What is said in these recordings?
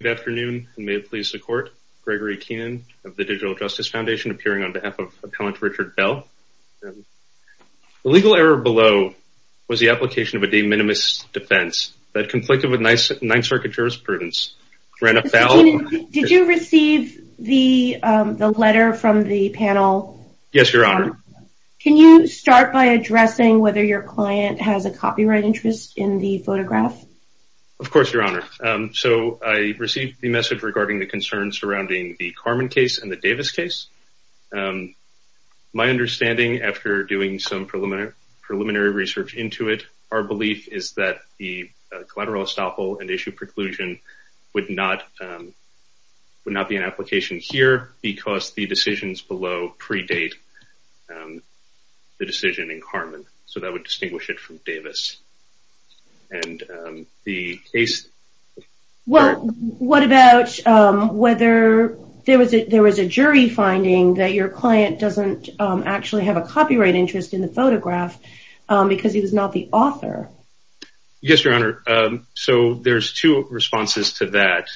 Good afternoon and may it please the court. Gregory Keenan of the Digital Justice Foundation appearing on behalf of Appellant Richard Bell. The legal error below was the application of a de minimis defense that conflicted with Ninth Circuit jurisprudence. Mr. Keenan, did you receive the letter from the panel? Yes, Your Honor. Can you start by addressing whether your client has a copyright interest in the photograph? Of course, Your Honor. So I received the message regarding the concerns surrounding the Carman case and the Davis case. My understanding, after doing some preliminary research into it, our belief is that the collateral estoppel and issue preclusion would not be an application here because the decisions below predate the decision in Carman. So that would distinguish it from Davis. What about whether there was a jury finding that your client doesn't actually have a copyright interest in the photograph because he was not the author? Yes, Your Honor. So there's two responses to that.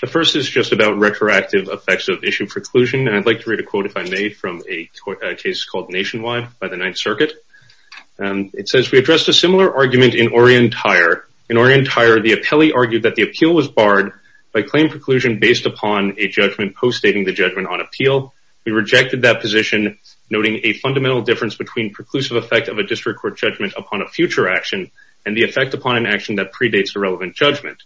The first is just about retroactive effects of issue preclusion. And I'd like to read a quote if I may from a case called Nationwide by the Ninth Circuit. It says, we addressed a similar argument in Orientire. In Orientire, the appellee argued that the appeal was barred by claim preclusion based upon a judgment post-stating the judgment on appeal. We rejected that position, noting a fundamental difference between preclusive effect of a district court judgment upon a future action and the effect upon an action that predates a relevant judgment.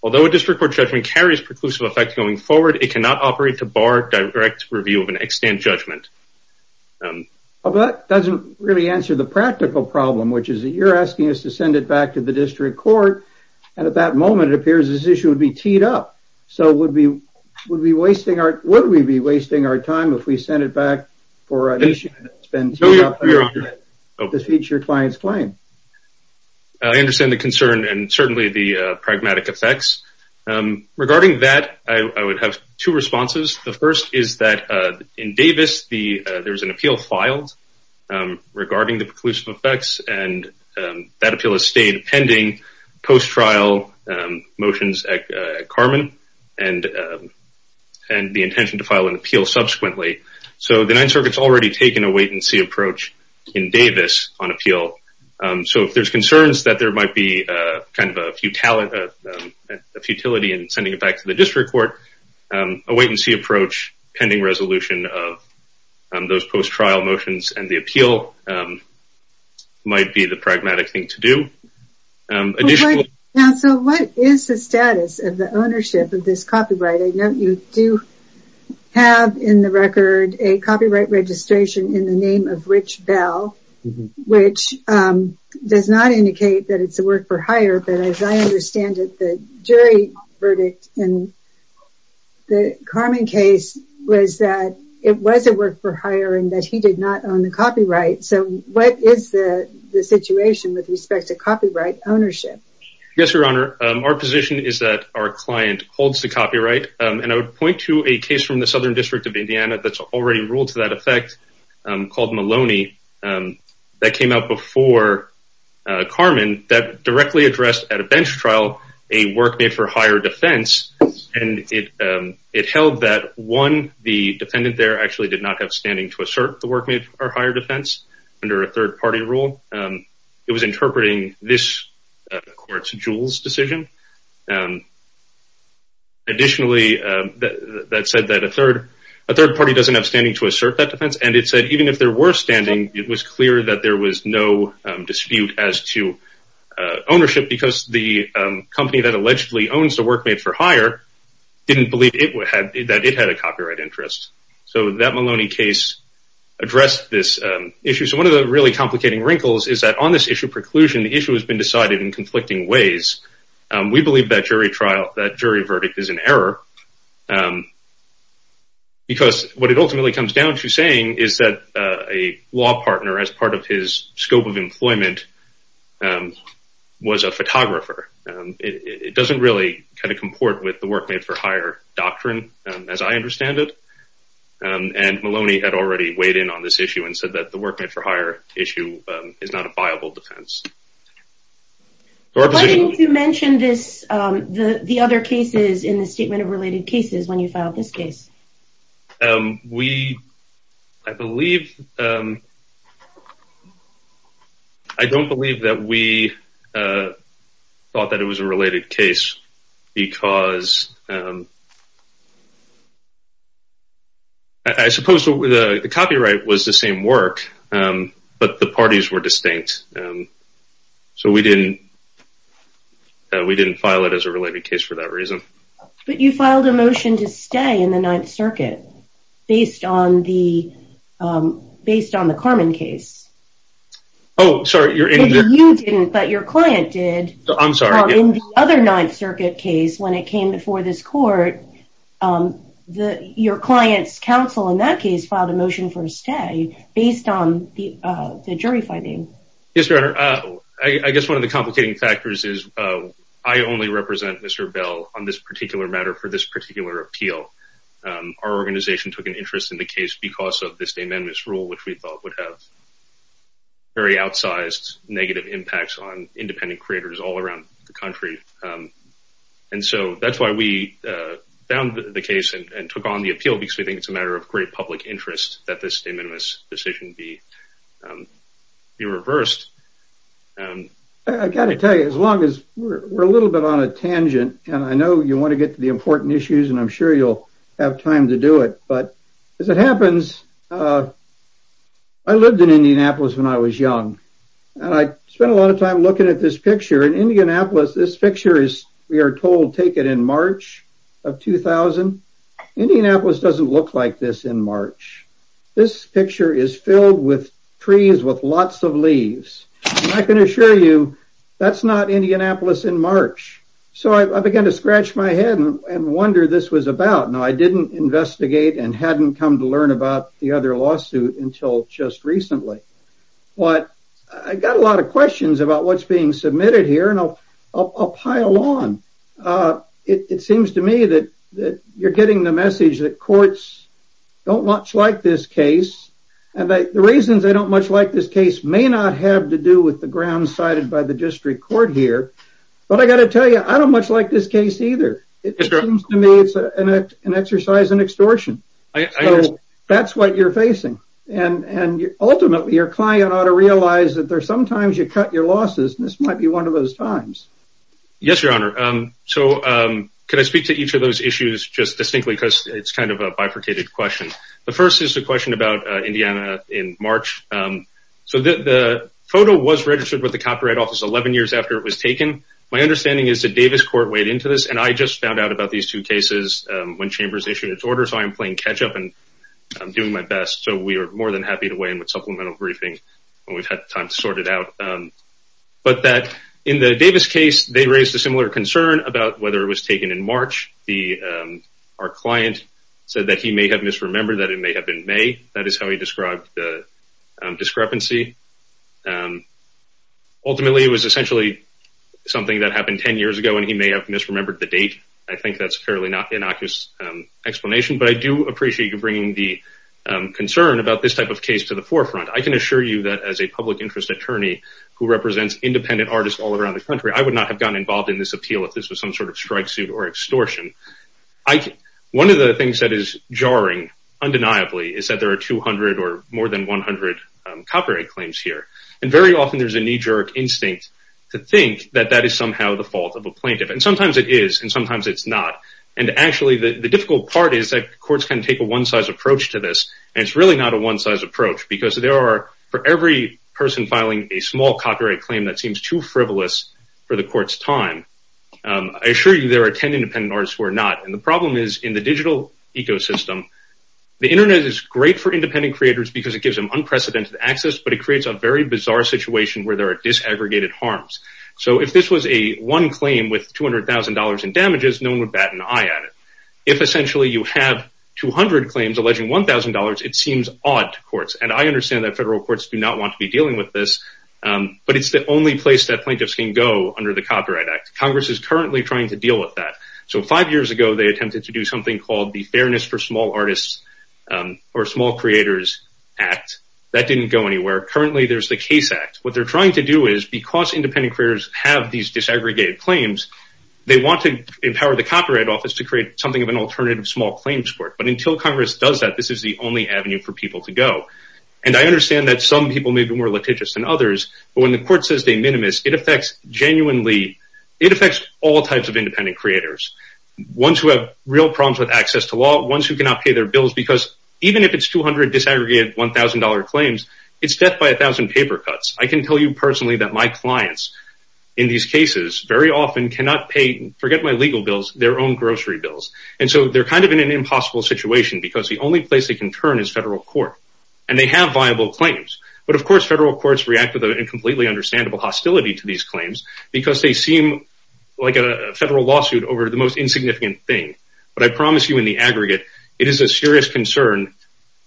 Although a district court judgment carries preclusive effect going forward, it cannot operate to bar direct review of an extant judgment. That doesn't really answer the practical problem, which is that you're asking us to send it back to the district court. And at that moment, it appears this issue would be teed up. So would we be wasting our time if we sent it back for an issue that's been teed up under the future client's claim? I understand the concern and certainly the pragmatic effects. Regarding that, I would have two responses. The first is that in Davis, there was an appeal filed regarding the preclusive effects. And that appeal has stayed pending post-trial motions at Carmen and the intention to file an appeal subsequently. So the Ninth Circuit's already taken a wait-and-see approach in Davis on appeal. So if there's concerns that there might be kind of a futility in sending it back to the district court, a wait-and-see approach, pending resolution of those post-trial motions and the appeal might be the pragmatic thing to do. So what is the status of the ownership of this copyright? I know you do have in the record a copyright registration in the name of Rich Bell, which does not indicate that it's a work for hire. But as I understand it, the jury verdict in the Carmen case was that it was a work for hire and that he did not own the copyright. So what is the situation with respect to copyright ownership? Yes, Your Honor. Our position is that our client holds the copyright. And I would point to a case from the Southern District of Indiana that's already ruled to that effect called Maloney that came out before Carmen that directly addressed at a bench trial a work made for hire defense. And it held that, one, the defendant there actually did not have standing to assert the work made for hire defense under a third-party rule. It was interpreting this court's Jules decision. Additionally, that said that a third party doesn't have standing to assert that defense. And it said even if there were standing, it was clear that there was no dispute as to ownership because the company that allegedly owns the work made for hire didn't believe that it had a copyright interest. So that Maloney case addressed this issue. So one of the really complicating wrinkles is that on this issue of preclusion, the issue has been decided in conflicting ways. We believe that jury trial, that jury verdict is an error because what it ultimately comes down to saying is that a law partner, as part of his scope of employment, was a photographer. It doesn't really kind of comport with the work made for hire doctrine as I understand it. And Maloney had already weighed in on this issue and said that the work made for hire issue is not a viable defense. Why didn't you mention the other cases in the statement of related cases when you filed this case? I don't believe that we thought that it was a related case because I suppose the copyright was the same work, but the parties were distinct. So we didn't file it as a related case for that reason. But you filed a motion to stay in the Ninth Circuit based on the Carmen case. Oh, sorry. You didn't, but your client did. I'm sorry. Your client's counsel in that case filed a motion for a stay based on the jury finding. Yes, Your Honor. I guess one of the complicating factors is I only represent Mr. Bell on this particular matter for this particular appeal. Our organization took an interest in the case because of this amendment's rule, which we thought would have very outsized negative impacts on independent creators all around the country. And so that's why we found the case and took on the appeal, because we think it's a matter of great public interest that this de minimis decision be reversed. I've got to tell you, as long as we're a little bit on a tangent, and I know you want to get to the important issues, and I'm sure you'll have time to do it. But as it happens, I lived in Indianapolis when I was young, and I spent a lot of time looking at this picture. In Indianapolis, this picture is, we are told, taken in March of 2000. Indianapolis doesn't look like this in March. This picture is filled with trees with lots of leaves. I can assure you that's not Indianapolis in March. So I began to scratch my head and wonder what this was about. Now, I didn't investigate and hadn't come to learn about the other lawsuit until just recently. But I got a lot of questions about what's being submitted here, and I'll pile on. It seems to me that you're getting the message that courts don't much like this case. And the reasons they don't much like this case may not have to do with the grounds cited by the district court here. But I got to tell you, I don't much like this case either. It seems to me it's an exercise in extortion. So that's what you're facing. And ultimately, your client ought to realize that sometimes you cut your losses, and this might be one of those times. Yes, Your Honor. So can I speak to each of those issues just distinctly because it's kind of a bifurcated question. The first is a question about Indiana in March. So the photo was registered with the Copyright Office 11 years after it was taken. My understanding is the Davis court weighed into this, and I just found out about these two cases when Chambers issued its order. So I am playing catch up, and I'm doing my best. So we are more than happy to weigh in with supplemental briefing when we've had time to sort it out. But in the Davis case, they raised a similar concern about whether it was taken in March. Our client said that he may have misremembered that it may have been May. That is how he described the discrepancy. Ultimately, it was essentially something that happened 10 years ago, and he may have misremembered the date. I think that's a fairly innocuous explanation, but I do appreciate you bringing the concern about this type of case to the forefront. I can assure you that as a public interest attorney who represents independent artists all around the country, I would not have gotten involved in this appeal if this was some sort of strike suit or extortion. One of the things that is jarring undeniably is that there are 200 or more than 100 copyright claims here, and very often there's a knee-jerk instinct to think that that is somehow the fault of a plaintiff. Sometimes it is, and sometimes it's not. Actually, the difficult part is that courts can take a one-size approach to this, and it's really not a one-size approach because there are, for every person filing a small copyright claim, that seems too frivolous for the court's time. I assure you there are 10 independent artists who are not, and the problem is in the digital ecosystem, the Internet is great for independent creators because it gives them unprecedented access, but it creates a very bizarre situation where there are disaggregated harms. If this was one claim with $200,000 in damages, no one would bat an eye at it. If essentially you have 200 claims alleging $1,000, it seems odd to courts, and I understand that federal courts do not want to be dealing with this, but it's the only place that plaintiffs can go under the Copyright Act. Congress is currently trying to deal with that. Five years ago, they attempted to do something called the Fairness for Small Artists or Small Creators Act. That didn't go anywhere. Currently, there's the CASE Act. What they're trying to do is, because independent creators have these disaggregated claims, they want to empower the Copyright Office to create something of an alternative small claims court, but until Congress does that, this is the only avenue for people to go. I understand that some people may be more litigious than others, but when the court says they're minimus, it affects genuinely all types of independent creators, ones who have real problems with access to law, ones who cannot pay their bills, because even if it's 200 disaggregated $1,000 claims, it's death by 1,000 paper cuts. I can tell you personally that my clients in these cases very often cannot pay, forget my legal bills, their own grocery bills, and so they're kind of in an impossible situation because the only place they can turn is federal court, and they have viable claims, but of course, federal courts react with an incompletely understandable hostility to these claims because they seem like a federal lawsuit over the most insignificant thing, but I promise you in the aggregate, it is a serious concern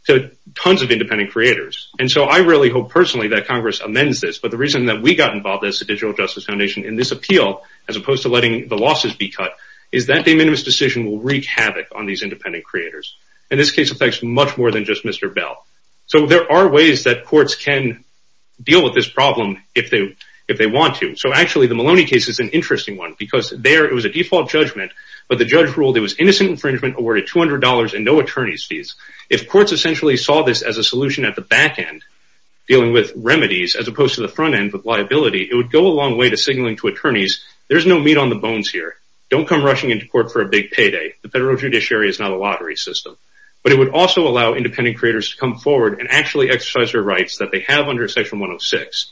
to tons of independent creators, and so I really hope personally that Congress amends this, but the reason that we got involved as the Digital Justice Foundation in this appeal, as opposed to letting the losses be cut, is that the minimus decision will wreak havoc on these independent creators, and this case affects much more than just Mr. Bell, so there are ways that courts can deal with this problem if they want to, so actually the Maloney case is an interesting one because there it was a default judgment, but the judge ruled it was innocent infringement awarded $200 and no attorney's fees. If courts essentially saw this as a solution at the back end, dealing with remedies as opposed to the front end with liability, it would go a long way to signaling to attorneys, there's no meat on the bones here. Don't come rushing into court for a big payday. The federal judiciary is not a lottery system, but it would also allow independent creators to come forward and actually exercise their rights that they have under section 106,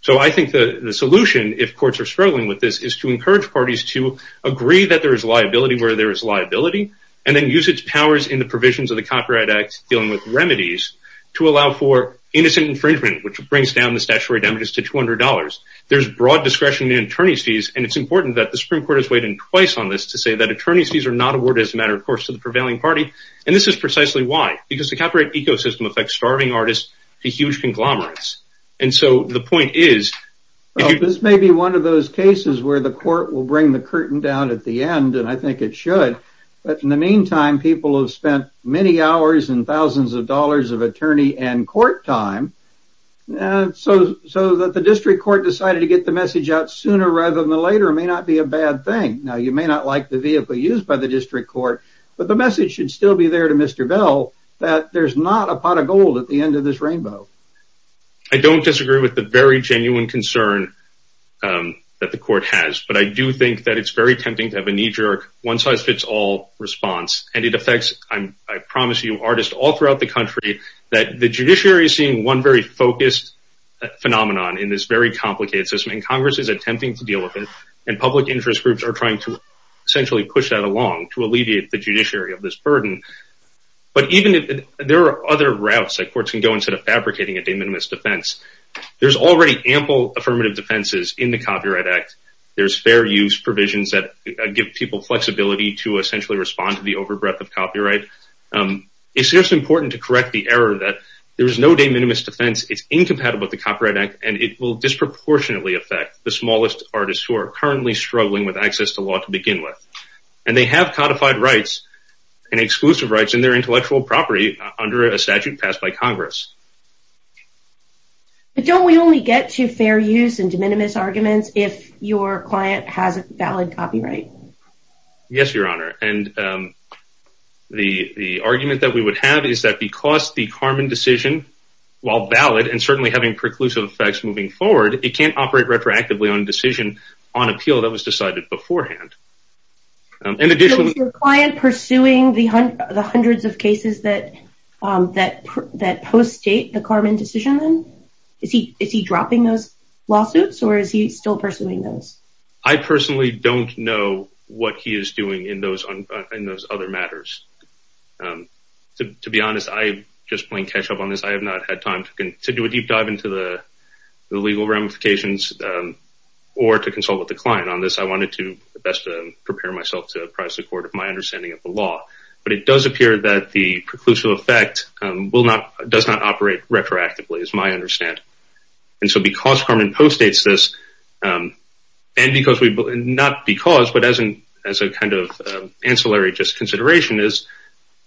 so I think the solution, if courts are struggling with this, is to encourage parties to agree that there is liability where there is liability, and then use its powers in the provisions of the Copyright Act, dealing with remedies, to allow for innocent infringement, which brings down the statutory damages to $200. There's broad discretion in attorney's fees, and it's important that the Supreme Court has weighed in twice on this to say that attorney's fees are not awarded as a matter of course to the prevailing party, and this is precisely why, because the copyright ecosystem affects starving artists to huge conglomerates, and so the point is... This may be one of those cases where the court will bring the curtain down at the end, and I think it should, but in the meantime, people have spent many hours and thousands of dollars of attorney and court time, so that the district court decided to get the message out sooner rather than later may not be a bad thing. Now, you may not like the vehicle used by the district court, but the message should still be there to Mr. Bell that there's not a pot of gold at the end of this rainbow. I don't disagree with the very genuine concern that the court has, but I do think that it's very tempting to have a knee-jerk, one-size-fits-all response, and it affects, I promise you, artists all throughout the country, that the judiciary is seeing one very focused phenomenon in this very complicated system, and Congress is attempting to deal with it, and public interest groups are trying to essentially push that along to alleviate the judiciary of this burden, but there are other routes that courts can go instead of fabricating a de minimis defense. There's already ample affirmative defenses in the Copyright Act. There's fair use provisions that give people flexibility to essentially respond to the over-breath of copyright. It's just important to correct the error that there is no de minimis defense. It's incompatible with the Copyright Act, and it will disproportionately affect the smallest artists who are currently struggling with access to law to begin with, and they have codified rights and exclusive rights in their intellectual property under a statute passed by Congress. But don't we only get to fair use and de minimis arguments if your client has a valid copyright? Yes, Your Honor, and the argument that we would have is that because the Karman decision, while valid, and certainly having preclusive effects moving forward, it can't operate retroactively on a decision on appeal that was decided beforehand. So is your client pursuing the hundreds of cases that post-state the Karman decision? Is he dropping those lawsuits, or is he still pursuing those? I personally don't know what he is doing in those other matters. To be honest, I'm just playing catch-up on this. I have not had time to do a deep dive into the legal ramifications or to consult with the client on this. I wanted to best prepare myself to apprise the court of my understanding of the law. But it does appear that the preclusive effect does not operate retroactively, is my understanding. And so because Karman post-states this, and not because, but as a kind of ancillary just consideration, is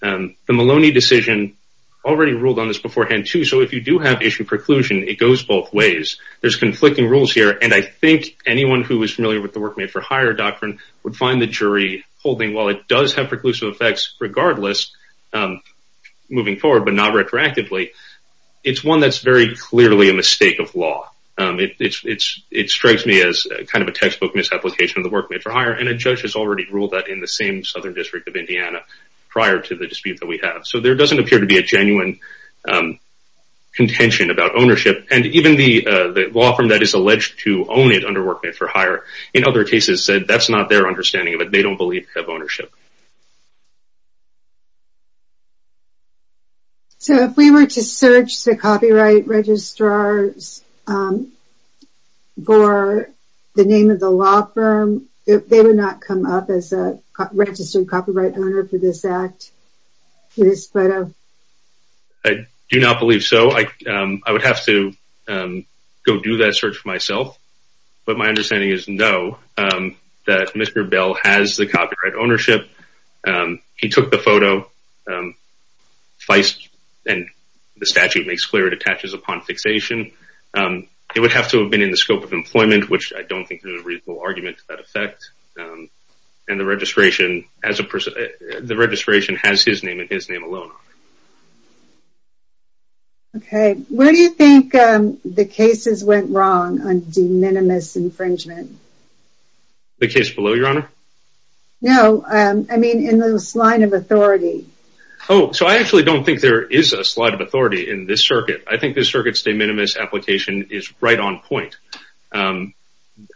the Maloney decision already ruled on this beforehand, too. So if you do have issue preclusion, it goes both ways. There's conflicting rules here, and I think anyone who is familiar with the Work Made for Hire doctrine would find the jury holding, while it does have preclusive effects regardless, moving forward but not retroactively, it's one that's very clearly a mistake of law. It strikes me as kind of a textbook misapplication of the Work Made for Hire, and a judge has already ruled that in the same southern district of Indiana prior to the dispute that we have. So there doesn't appear to be a genuine contention about ownership. And even the law firm that is alleged to own it under Work Made for Hire, in other cases said that's not their understanding of it. They don't believe in ownership. So if we were to search the copyright registrars for the name of the law firm, they would not come up as a registered copyright owner for this act? I do not believe so. I would have to go do that search for myself, but my understanding is no, that Mr. Bell has the copyright ownership. He took the photo, and the statute makes clear it attaches upon fixation. It would have to have been in the scope of employment, which I don't think is a reasonable argument to that effect. And the registration has his name and his name alone on it. Okay, where do you think the cases went wrong on de minimis infringement? The case below, Your Honor? No, I mean in the slide of authority. Oh, so I actually don't think there is a slide of authority in this circuit. I think this circuit's de minimis application is right on point.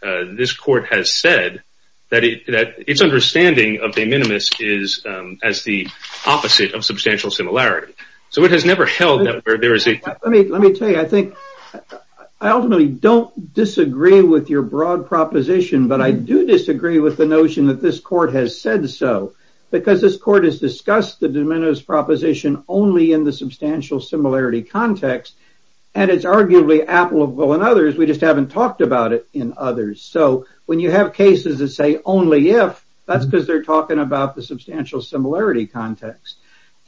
This court has said that its understanding of de minimis is as the opposite of substantial similarity. So it has never held that there is a… Let me tell you, I think I ultimately don't disagree with your broad proposition, but I do disagree with the notion that this court has said so, because this court has discussed the de minimis proposition only in the substantial similarity context, and it's arguably applicable in others. We just haven't talked about it in others. So when you have cases that say only if, that's because they're talking about the substantial similarity context.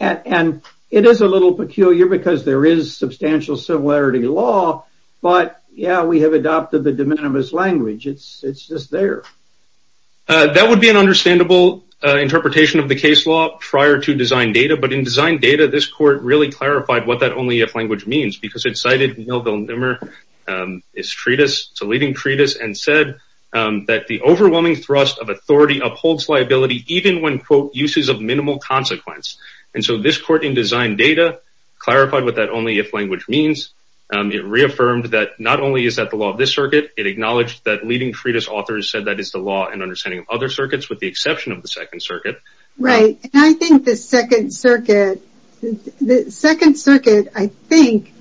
And it is a little peculiar because there is substantial similarity law, but yeah, we have adopted the de minimis language. It's just there. That would be an understandable interpretation of the case law prior to design data, but in design data, this court really clarified what that only if language means, because it cited Neal Villeneuve's treatise, it's a leading treatise, and said that the overwhelming thrust of authority upholds liability even when, quote, uses of minimal consequence. And so this court in design data clarified what that only if language means. It reaffirmed that not only is that the law of this circuit, it acknowledged that leading treatise authors said that is the law and understanding of other circuits, with the exception of the Second Circuit. Right. And I think the Second Circuit, I think,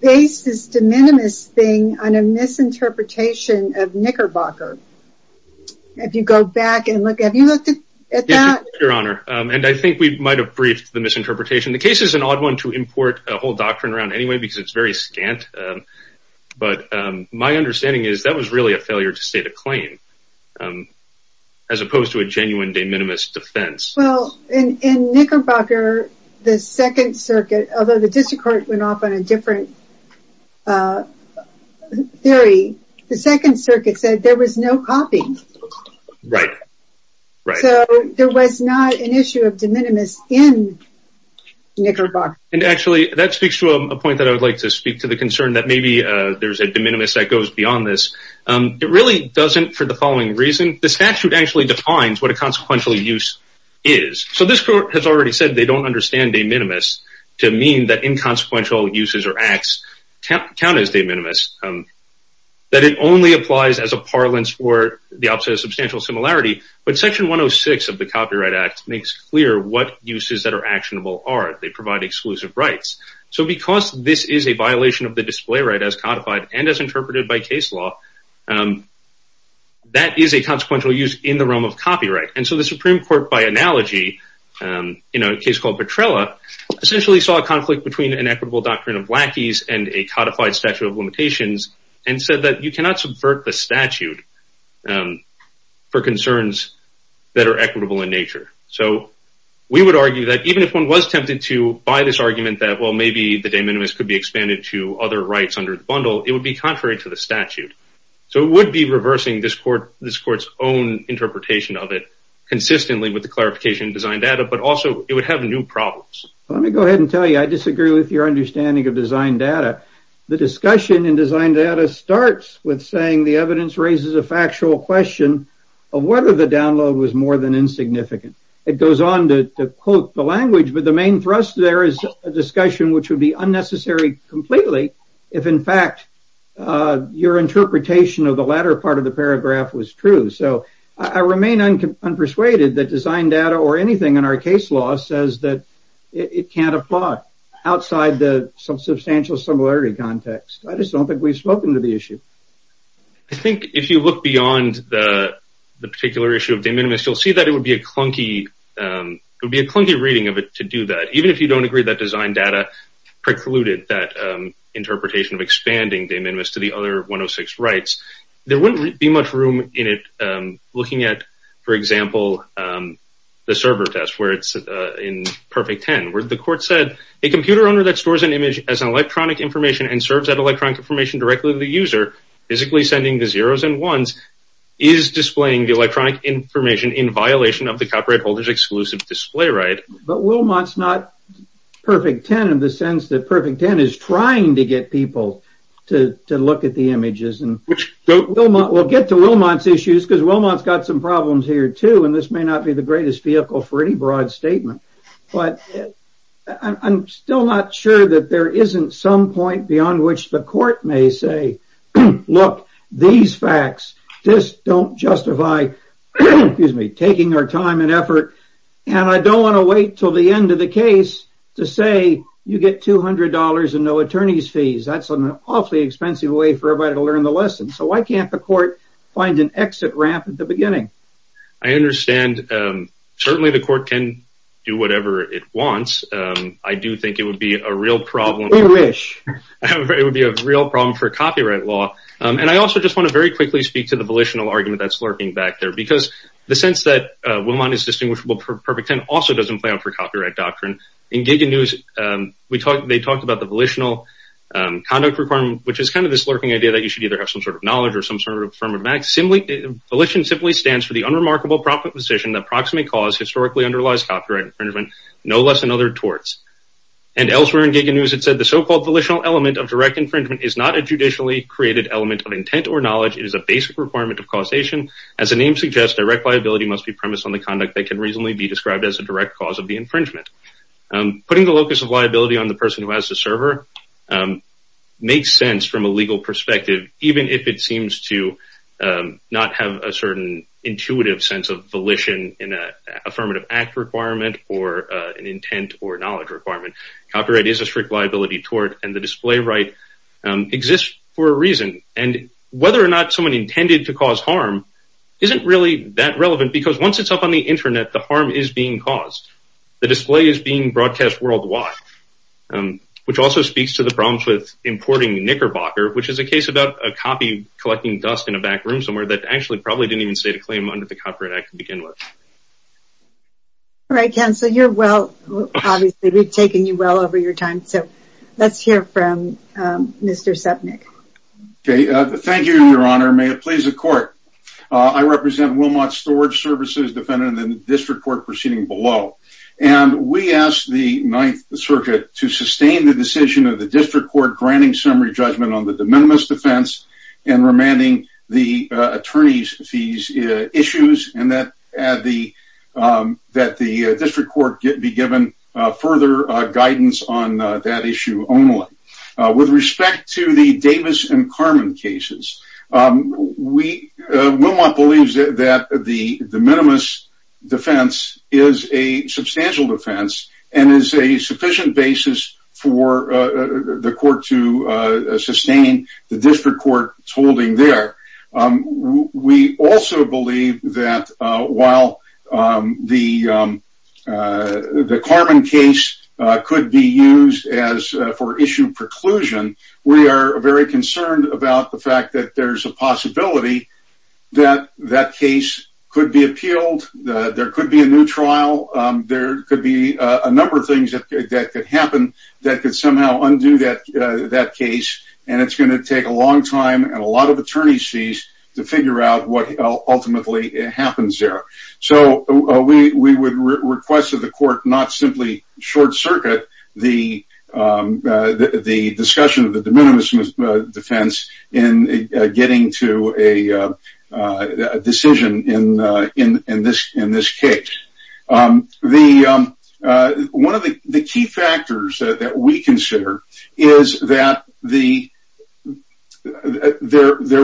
based this de minimis thing on a misinterpretation of Knickerbocker. If you go back and look, have you looked at that? Yes, Your Honor. And I think we might have briefed the misinterpretation. The case is an odd one to import a whole doctrine around anyway because it's very scant. But my understanding is that was really a failure to state a claim, as opposed to a genuine de minimis defense. Well, in Knickerbocker, the Second Circuit, although the district court went off on a different theory, the Second Circuit said there was no copy. Right. So there was not an issue of de minimis in Knickerbocker. And actually, that speaks to a point that I would like to speak to the concern that maybe there's a de minimis that goes beyond this. It really doesn't for the following reason. The statute actually defines what a consequential use is. So this court has already said they don't understand de minimis to mean that inconsequential uses or acts count as de minimis, that it only applies as a parlance or the opposite of substantial similarity. But Section 106 of the Copyright Act makes clear what uses that are actionable are. They provide exclusive rights. So because this is a violation of the display right as codified and as interpreted by case law, that is a consequential use in the realm of copyright. And so the Supreme Court, by analogy, in a case called Petrella, essentially saw a conflict between an equitable doctrine of lackeys and a codified statute of limitations and said that you cannot subvert the statute for concerns that are equitable in nature. So we would argue that even if one was tempted to buy this argument that, well, maybe the de minimis could be expanded to other rights under the bundle, it would be contrary to the statute. So it would be reversing this court's own interpretation of it consistently with the clarification in design data, but also it would have new problems. Let me go ahead and tell you I disagree with your understanding of design data. The discussion in design data starts with saying the evidence raises a factual question of whether the download was more than insignificant. It goes on to quote the language, but the main thrust there is a discussion which would be unnecessary completely if, in fact, your interpretation of the latter part of the paragraph was true. So I remain unpersuaded that design data or anything in our case law says that it can't apply outside the substantial similarity context. I just don't think we've spoken to the issue. I think if you look beyond the particular issue of de minimis, you'll see that it would be a clunky reading of it to do that. Even if you don't agree that design data precluded that interpretation of expanding de minimis to the other 106 rights, there wouldn't be much room in it looking at, for example, the server test where it's in perfect 10 where the court said, a computer owner that stores an image as electronic information and serves that electronic information directly to the user, physically sending the zeros and ones, is displaying the electronic information in violation of the copyright holder's exclusive display right. But Wilmot's not perfect 10 in the sense that perfect 10 is trying to get people to look at the images. We'll get to Wilmot's issues because Wilmot's got some problems here, too, and this may not be the greatest vehicle for any broad statement. But I'm still not sure that there isn't some point beyond which the court may say, look, these facts just don't justify taking our time and effort. And I don't want to wait until the end of the case to say you get $200 and no attorney's fees. That's an awfully expensive way for everybody to learn the lesson. So why can't the court find an exit ramp at the beginning? I understand. Certainly the court can do whatever it wants. I do think it would be a real problem. We wish. It would be a real problem for copyright law. And I also just want to very quickly speak to the volitional argument that's lurking back there because the sense that Wilmot is distinguishable for perfect 10 also doesn't play out for copyright doctrine. In Giga News, they talked about the volitional conduct requirement, which is kind of this lurking idea that you should either have some sort of knowledge or some sort of affirmative act. Volition simply stands for the unremarkable proposition that proximate cause historically underlies copyright infringement, no less than other torts. And elsewhere in Giga News it said the so-called volitional element of direct infringement is not a judicially created element of intent or knowledge. It is a basic requirement of causation. As the name suggests, direct liability must be premised on the conduct that can reasonably be described as a direct cause of the infringement. Putting the locus of liability on the person who has the server makes sense from a legal perspective even if it seems to not have a certain intuitive sense of volition in an affirmative act requirement or an intent or knowledge requirement. Copyright is a strict liability tort, and the display right exists for a reason. And whether or not someone intended to cause harm isn't really that relevant because once it's up on the Internet, the harm is being caused. The display is being broadcast worldwide, which also speaks to the problems with importing knickerbocker, which is a case about a copy collecting dust in a back room somewhere that actually probably didn't even state a claim under the Copyright Act to begin with. All right, Ken, so you're well, obviously we've taken you well over your time, so let's hear from Mr. Sepnick. Thank you, Your Honor. May it please the Court. I represent Wilmot Storage Services, defendant in the district court proceeding below. And we ask the Ninth Circuit to sustain the decision of the district court granting summary judgment on the de minimis defense and remanding the attorney's fees issues and that the district court be given further guidance on that issue only. With respect to the Davis and Carmen cases, Wilmot believes that the de minimis defense is a substantial defense and is a sufficient basis for the court to sustain the district court's holding there. We also believe that while the Carmen case could be used for issue preclusion, we are very concerned about the fact that there's a possibility that that case could be appealed, there could be a new trial, there could be a number of things that could happen that could somehow undo that to figure out what ultimately happens there. So we would request that the court not simply short circuit the discussion of the de minimis defense in getting to a decision in this case. One of the key factors that we consider is that there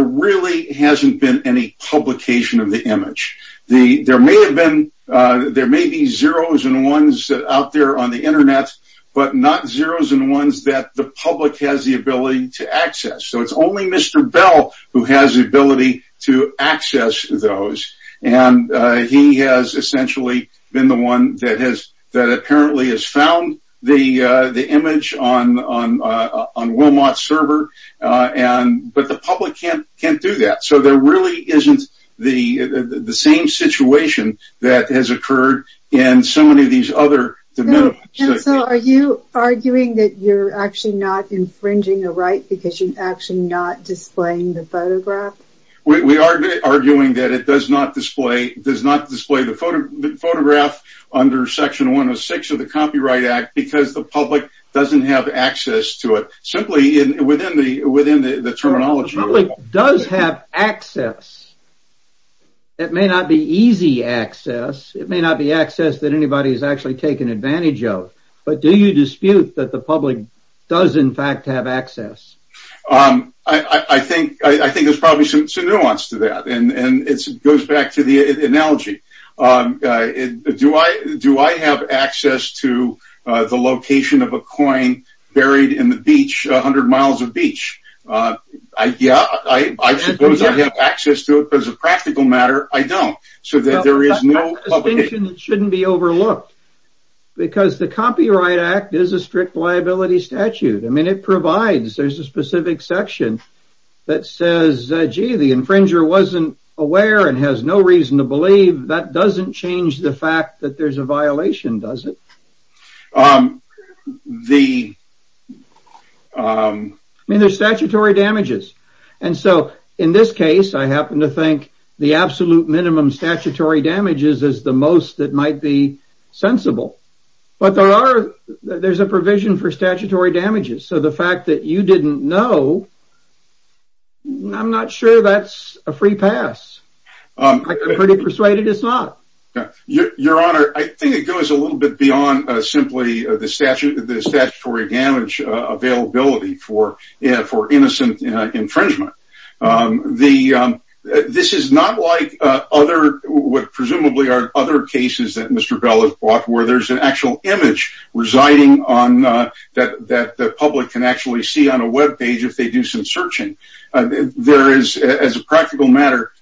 really hasn't been any publication of the image. There may be zeros and ones out there on the internet, but not zeros and ones that the public has the ability to access. So it's only Mr. Bell who has the ability to access those, and he has essentially been the one that apparently has found the image on Wilmot's server, but the public can't do that. So there really isn't the same situation that has occurred in so many of these other de minimis. So are you arguing that you're actually not infringing a right because you're actually not displaying the photograph? We are arguing that it does not display the photograph under section 106 of the Copyright Act because the public doesn't have access to it, simply within the terminology. The public does have access. It may not be easy access. It may not be access that anybody has actually taken advantage of, but do you dispute that the public does in fact have access? I think there's probably some nuance to that, and it goes back to the analogy. Do I have access to the location of a coin buried in the beach, 100 miles of beach? Yeah, I suppose I have access to it. As a practical matter, I don't. So there is no publication. That's a distinction that shouldn't be overlooked because the Copyright Act is a strict liability statute. I mean, it provides. There's a specific section that says, gee, the infringer wasn't aware and has no reason to believe. That doesn't change the fact that there's a violation, does it? I mean, there's statutory damages. And so in this case, I happen to think the absolute minimum statutory damages is the most that might be sensible. But there's a provision for statutory damages. So the fact that you didn't know, I'm not sure that's a free pass. I'm pretty persuaded it's not. Your Honor, I think it goes a little bit beyond simply the statutory damage availability for innocent infringement. This is not like what presumably are other cases that Mr. Bell has brought, where there's an actual image residing that the public can actually see on a web page if they do some searching. There is, as a practical matter,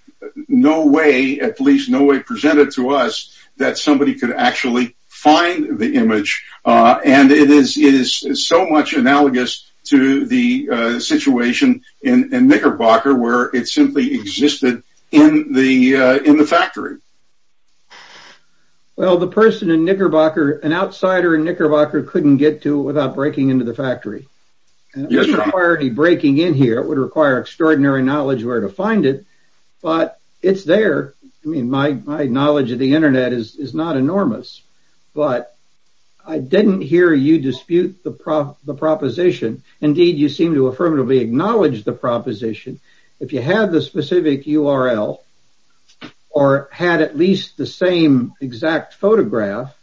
no way, at least no way presented to us, that somebody could actually find the image. And it is so much analogous to the situation in Knickerbocker where it simply existed in the factory. Well, the person in Knickerbocker, an outsider in Knickerbocker couldn't get to it without breaking into the factory. It doesn't require any breaking in here. It would require extraordinary knowledge where to find it. But it's there. I mean, my knowledge of the Internet is not enormous. But I didn't hear you dispute the proposition. Indeed, you seem to affirmatively acknowledge the proposition. If you have the specific URL or had at least the same exact photograph,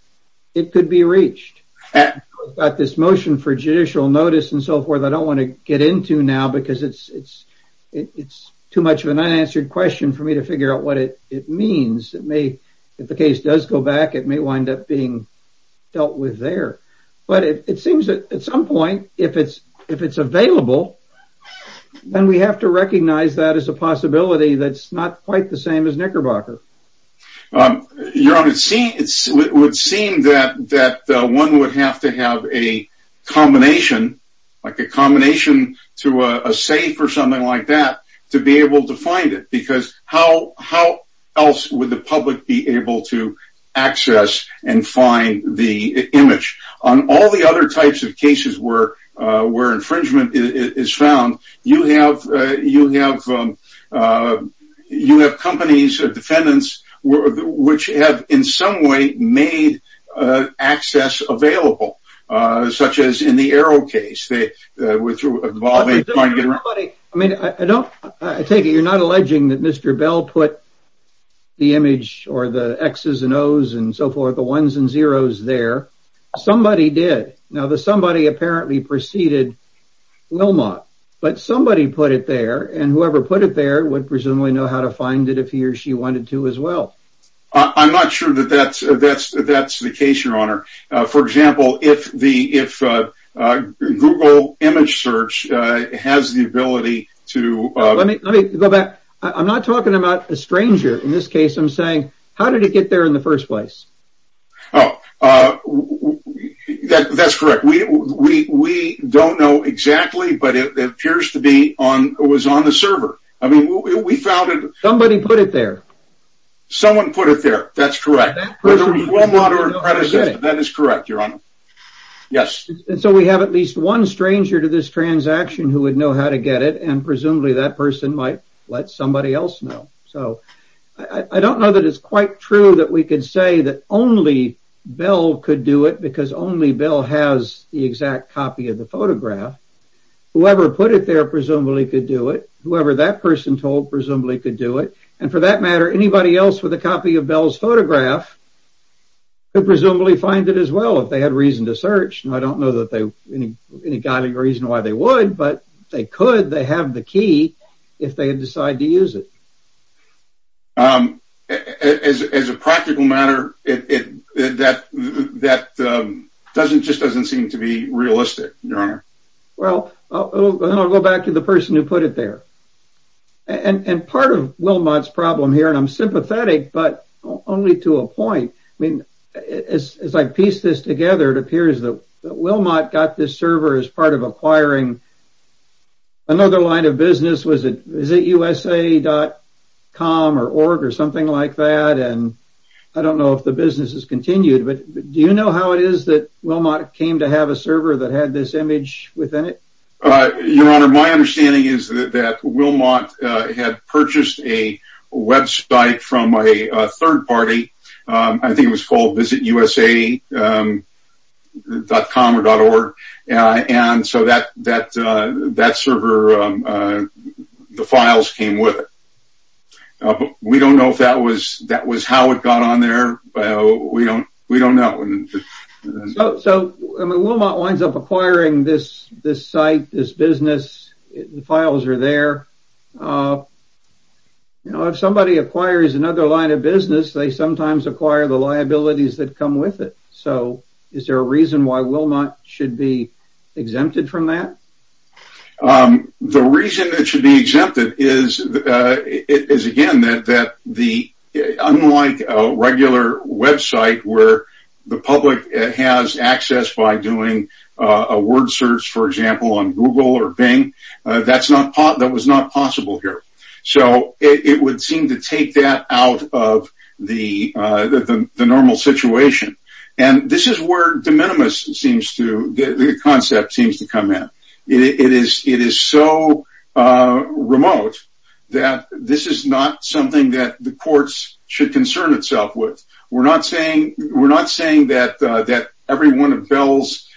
it could be reached. I've got this motion for judicial notice and so forth. I don't want to get into now because it's too much of an unanswered question for me to figure out what it means. If the case does go back, it may wind up being dealt with there. But it seems that at some point, if it's available, then we have to recognize that as a possibility that's not quite the same as Knickerbocker. Your Honor, it would seem that one would have to have a combination, like a combination to a safe or something like that, to be able to find it. Because how else would the public be able to access and find the image? On all the other types of cases where infringement is found, you have companies or defendants which have in some way made access available, such as in the Arrow case. I take it you're not alleging that Mr. Bell put the image or the Xs and Os and so forth, the ones and zeros there. Somebody did. Now, the somebody apparently preceded Wilmot. But somebody put it there, and whoever put it there would presumably know how to find it if he or she wanted to as well. I'm not sure that that's the case, Your Honor. For example, if Google Image Search has the ability to... Let me go back. I'm not talking about a stranger. In this case, I'm saying, how did it get there in the first place? Oh, that's correct. We don't know exactly, but it appears to be it was on the server. Somebody put it there. Someone put it there. That's correct. That is correct, Your Honor. Yes. So we have at least one stranger to this transaction who would know how to get it, and presumably that person might let somebody else know. So I don't know that it's quite true that we could say that only Bell could do it because only Bell has the exact copy of the photograph. Whoever put it there presumably could do it. Whoever that person told presumably could do it. And for that matter, anybody else with a copy of Bell's photograph could presumably find it as well if they had reason to search. And I don't know that they have any reason why they would, but they could. They have the key if they had decided to use it. As a practical matter, that just doesn't seem to be realistic, Your Honor. Well, I'll go back to the person who put it there. And part of Wilmot's problem here, and I'm sympathetic, but only to a point. I mean, as I piece this together, it appears that Wilmot got this server as part of acquiring another line of business. Was it USA.com or org or something like that? And I don't know if the business has continued, but do you know how it is that Wilmot came to have a server that had this image within it? Your Honor, my understanding is that Wilmot had purchased a website from a third party. I think it was called VisitUSA.com or .org. And so that server, the files came with it. We don't know if that was how it got on there. We don't know. So Wilmot winds up acquiring this site, this business. The files are there. If somebody acquires another line of business, they sometimes acquire the liabilities that come with it. So is there a reason why Wilmot should be exempted from that? The reason it should be exempted is, again, that unlike a regular website where the public has access by doing a word search, for example, on Google or Bing, that was not possible here. So it would seem to take that out of the normal situation. And this is where de minimis seems to – the concept seems to come in. It is so remote that this is not something that the courts should concern itself with. We're not saying that every one of Bell's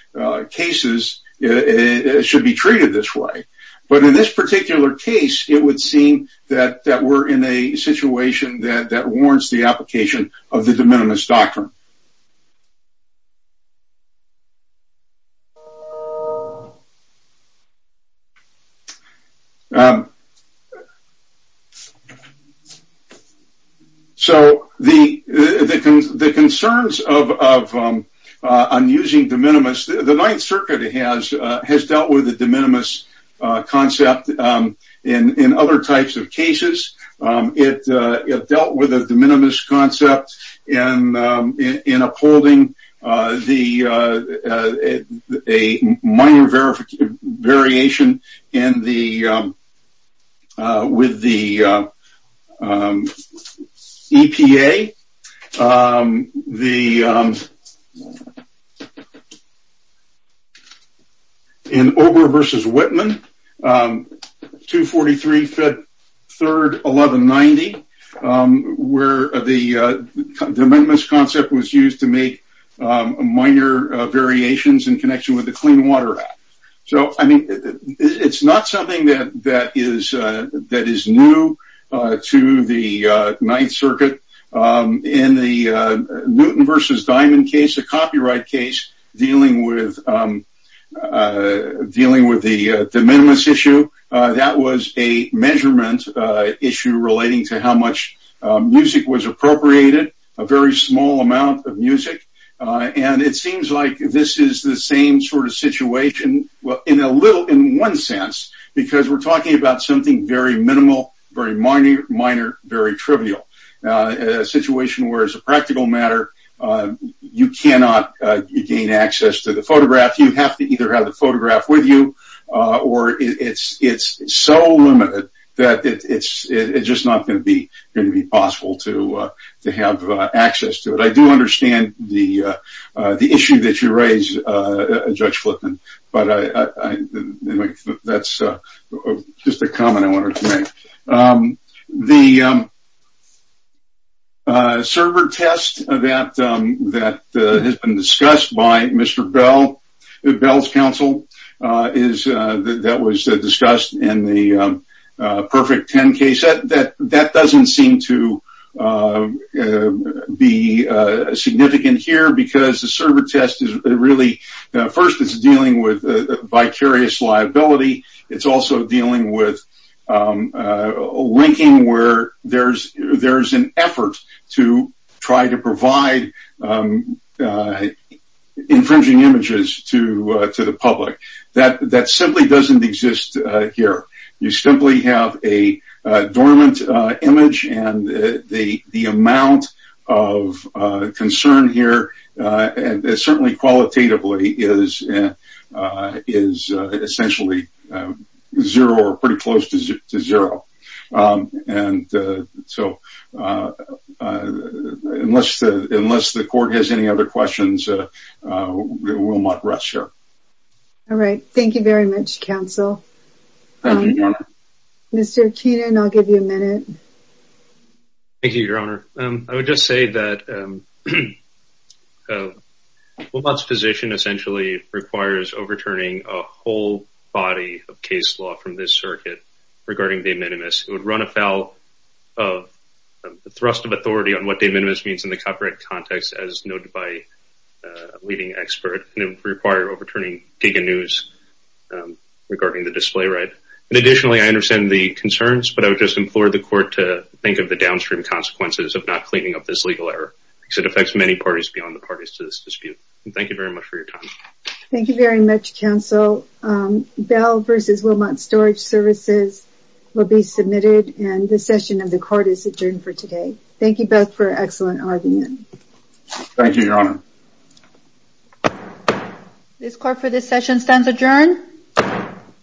cases should be treated this way. But in this particular case, it would seem that we're in a situation that warrants the application of the de minimis doctrine. So the concerns of using de minimis – the Ninth Circuit has dealt with the de minimis concept in other types of cases. It dealt with the de minimis concept in upholding a minor variation in the – with the EPA. The – in Ober versus Whitman, 243-3-1190, where the de minimis concept was used to make minor variations in connection with the Clean Water Act. So, I mean, it's not something that is new to the Ninth Circuit. In the Newton versus Diamond case, a copyright case, dealing with the de minimis issue, that was a measurement issue relating to how much music was appropriated, a very small amount of music. And it seems like this is the same sort of situation in a little – in one sense, because we're talking about something very minimal, very minor, very trivial. A situation where, as a practical matter, you cannot gain access to the photograph. You have to either have the photograph with you, or it's so limited that it's just not going to be possible to have access to it. But I do understand the issue that you raise, Judge Flippen. But I – that's just a comment I wanted to make. The server test that has been discussed by Mr. Bell, Bell's counsel, that was discussed in the Perfect 10 case, that doesn't seem to be significant here. Because the server test is really – first, it's dealing with vicarious liability. It's also dealing with linking where there's an effort to try to provide infringing images to the public. That simply doesn't exist here. You simply have a dormant image, and the amount of concern here, certainly qualitatively, is essentially zero, or pretty close to zero. And so, unless the court has any other questions, we'll not rest here. All right. Thank you very much, counsel. Mr. Keenan, I'll give you a minute. Thank you, Your Honor. I would just say that Wilmot's position essentially requires overturning a whole body of case law from this circuit regarding De Minimis. It would run afoul of the thrust of authority on what De Minimis means in the copyright context, as noted by a leading expert. It would require overturning Degan News regarding the display right. Additionally, I understand the concerns, but I would just implore the court to think of the downstream consequences of not cleaning up this legal error. It affects many parties beyond the parties to this dispute. Thank you very much for your time. Thank you very much, counsel. Bell v. Wilmot Storage Services will be submitted, and this session of the court is adjourned for today. Thank you both for an excellent argument. Thank you, Your Honor. This court for this session stands adjourned.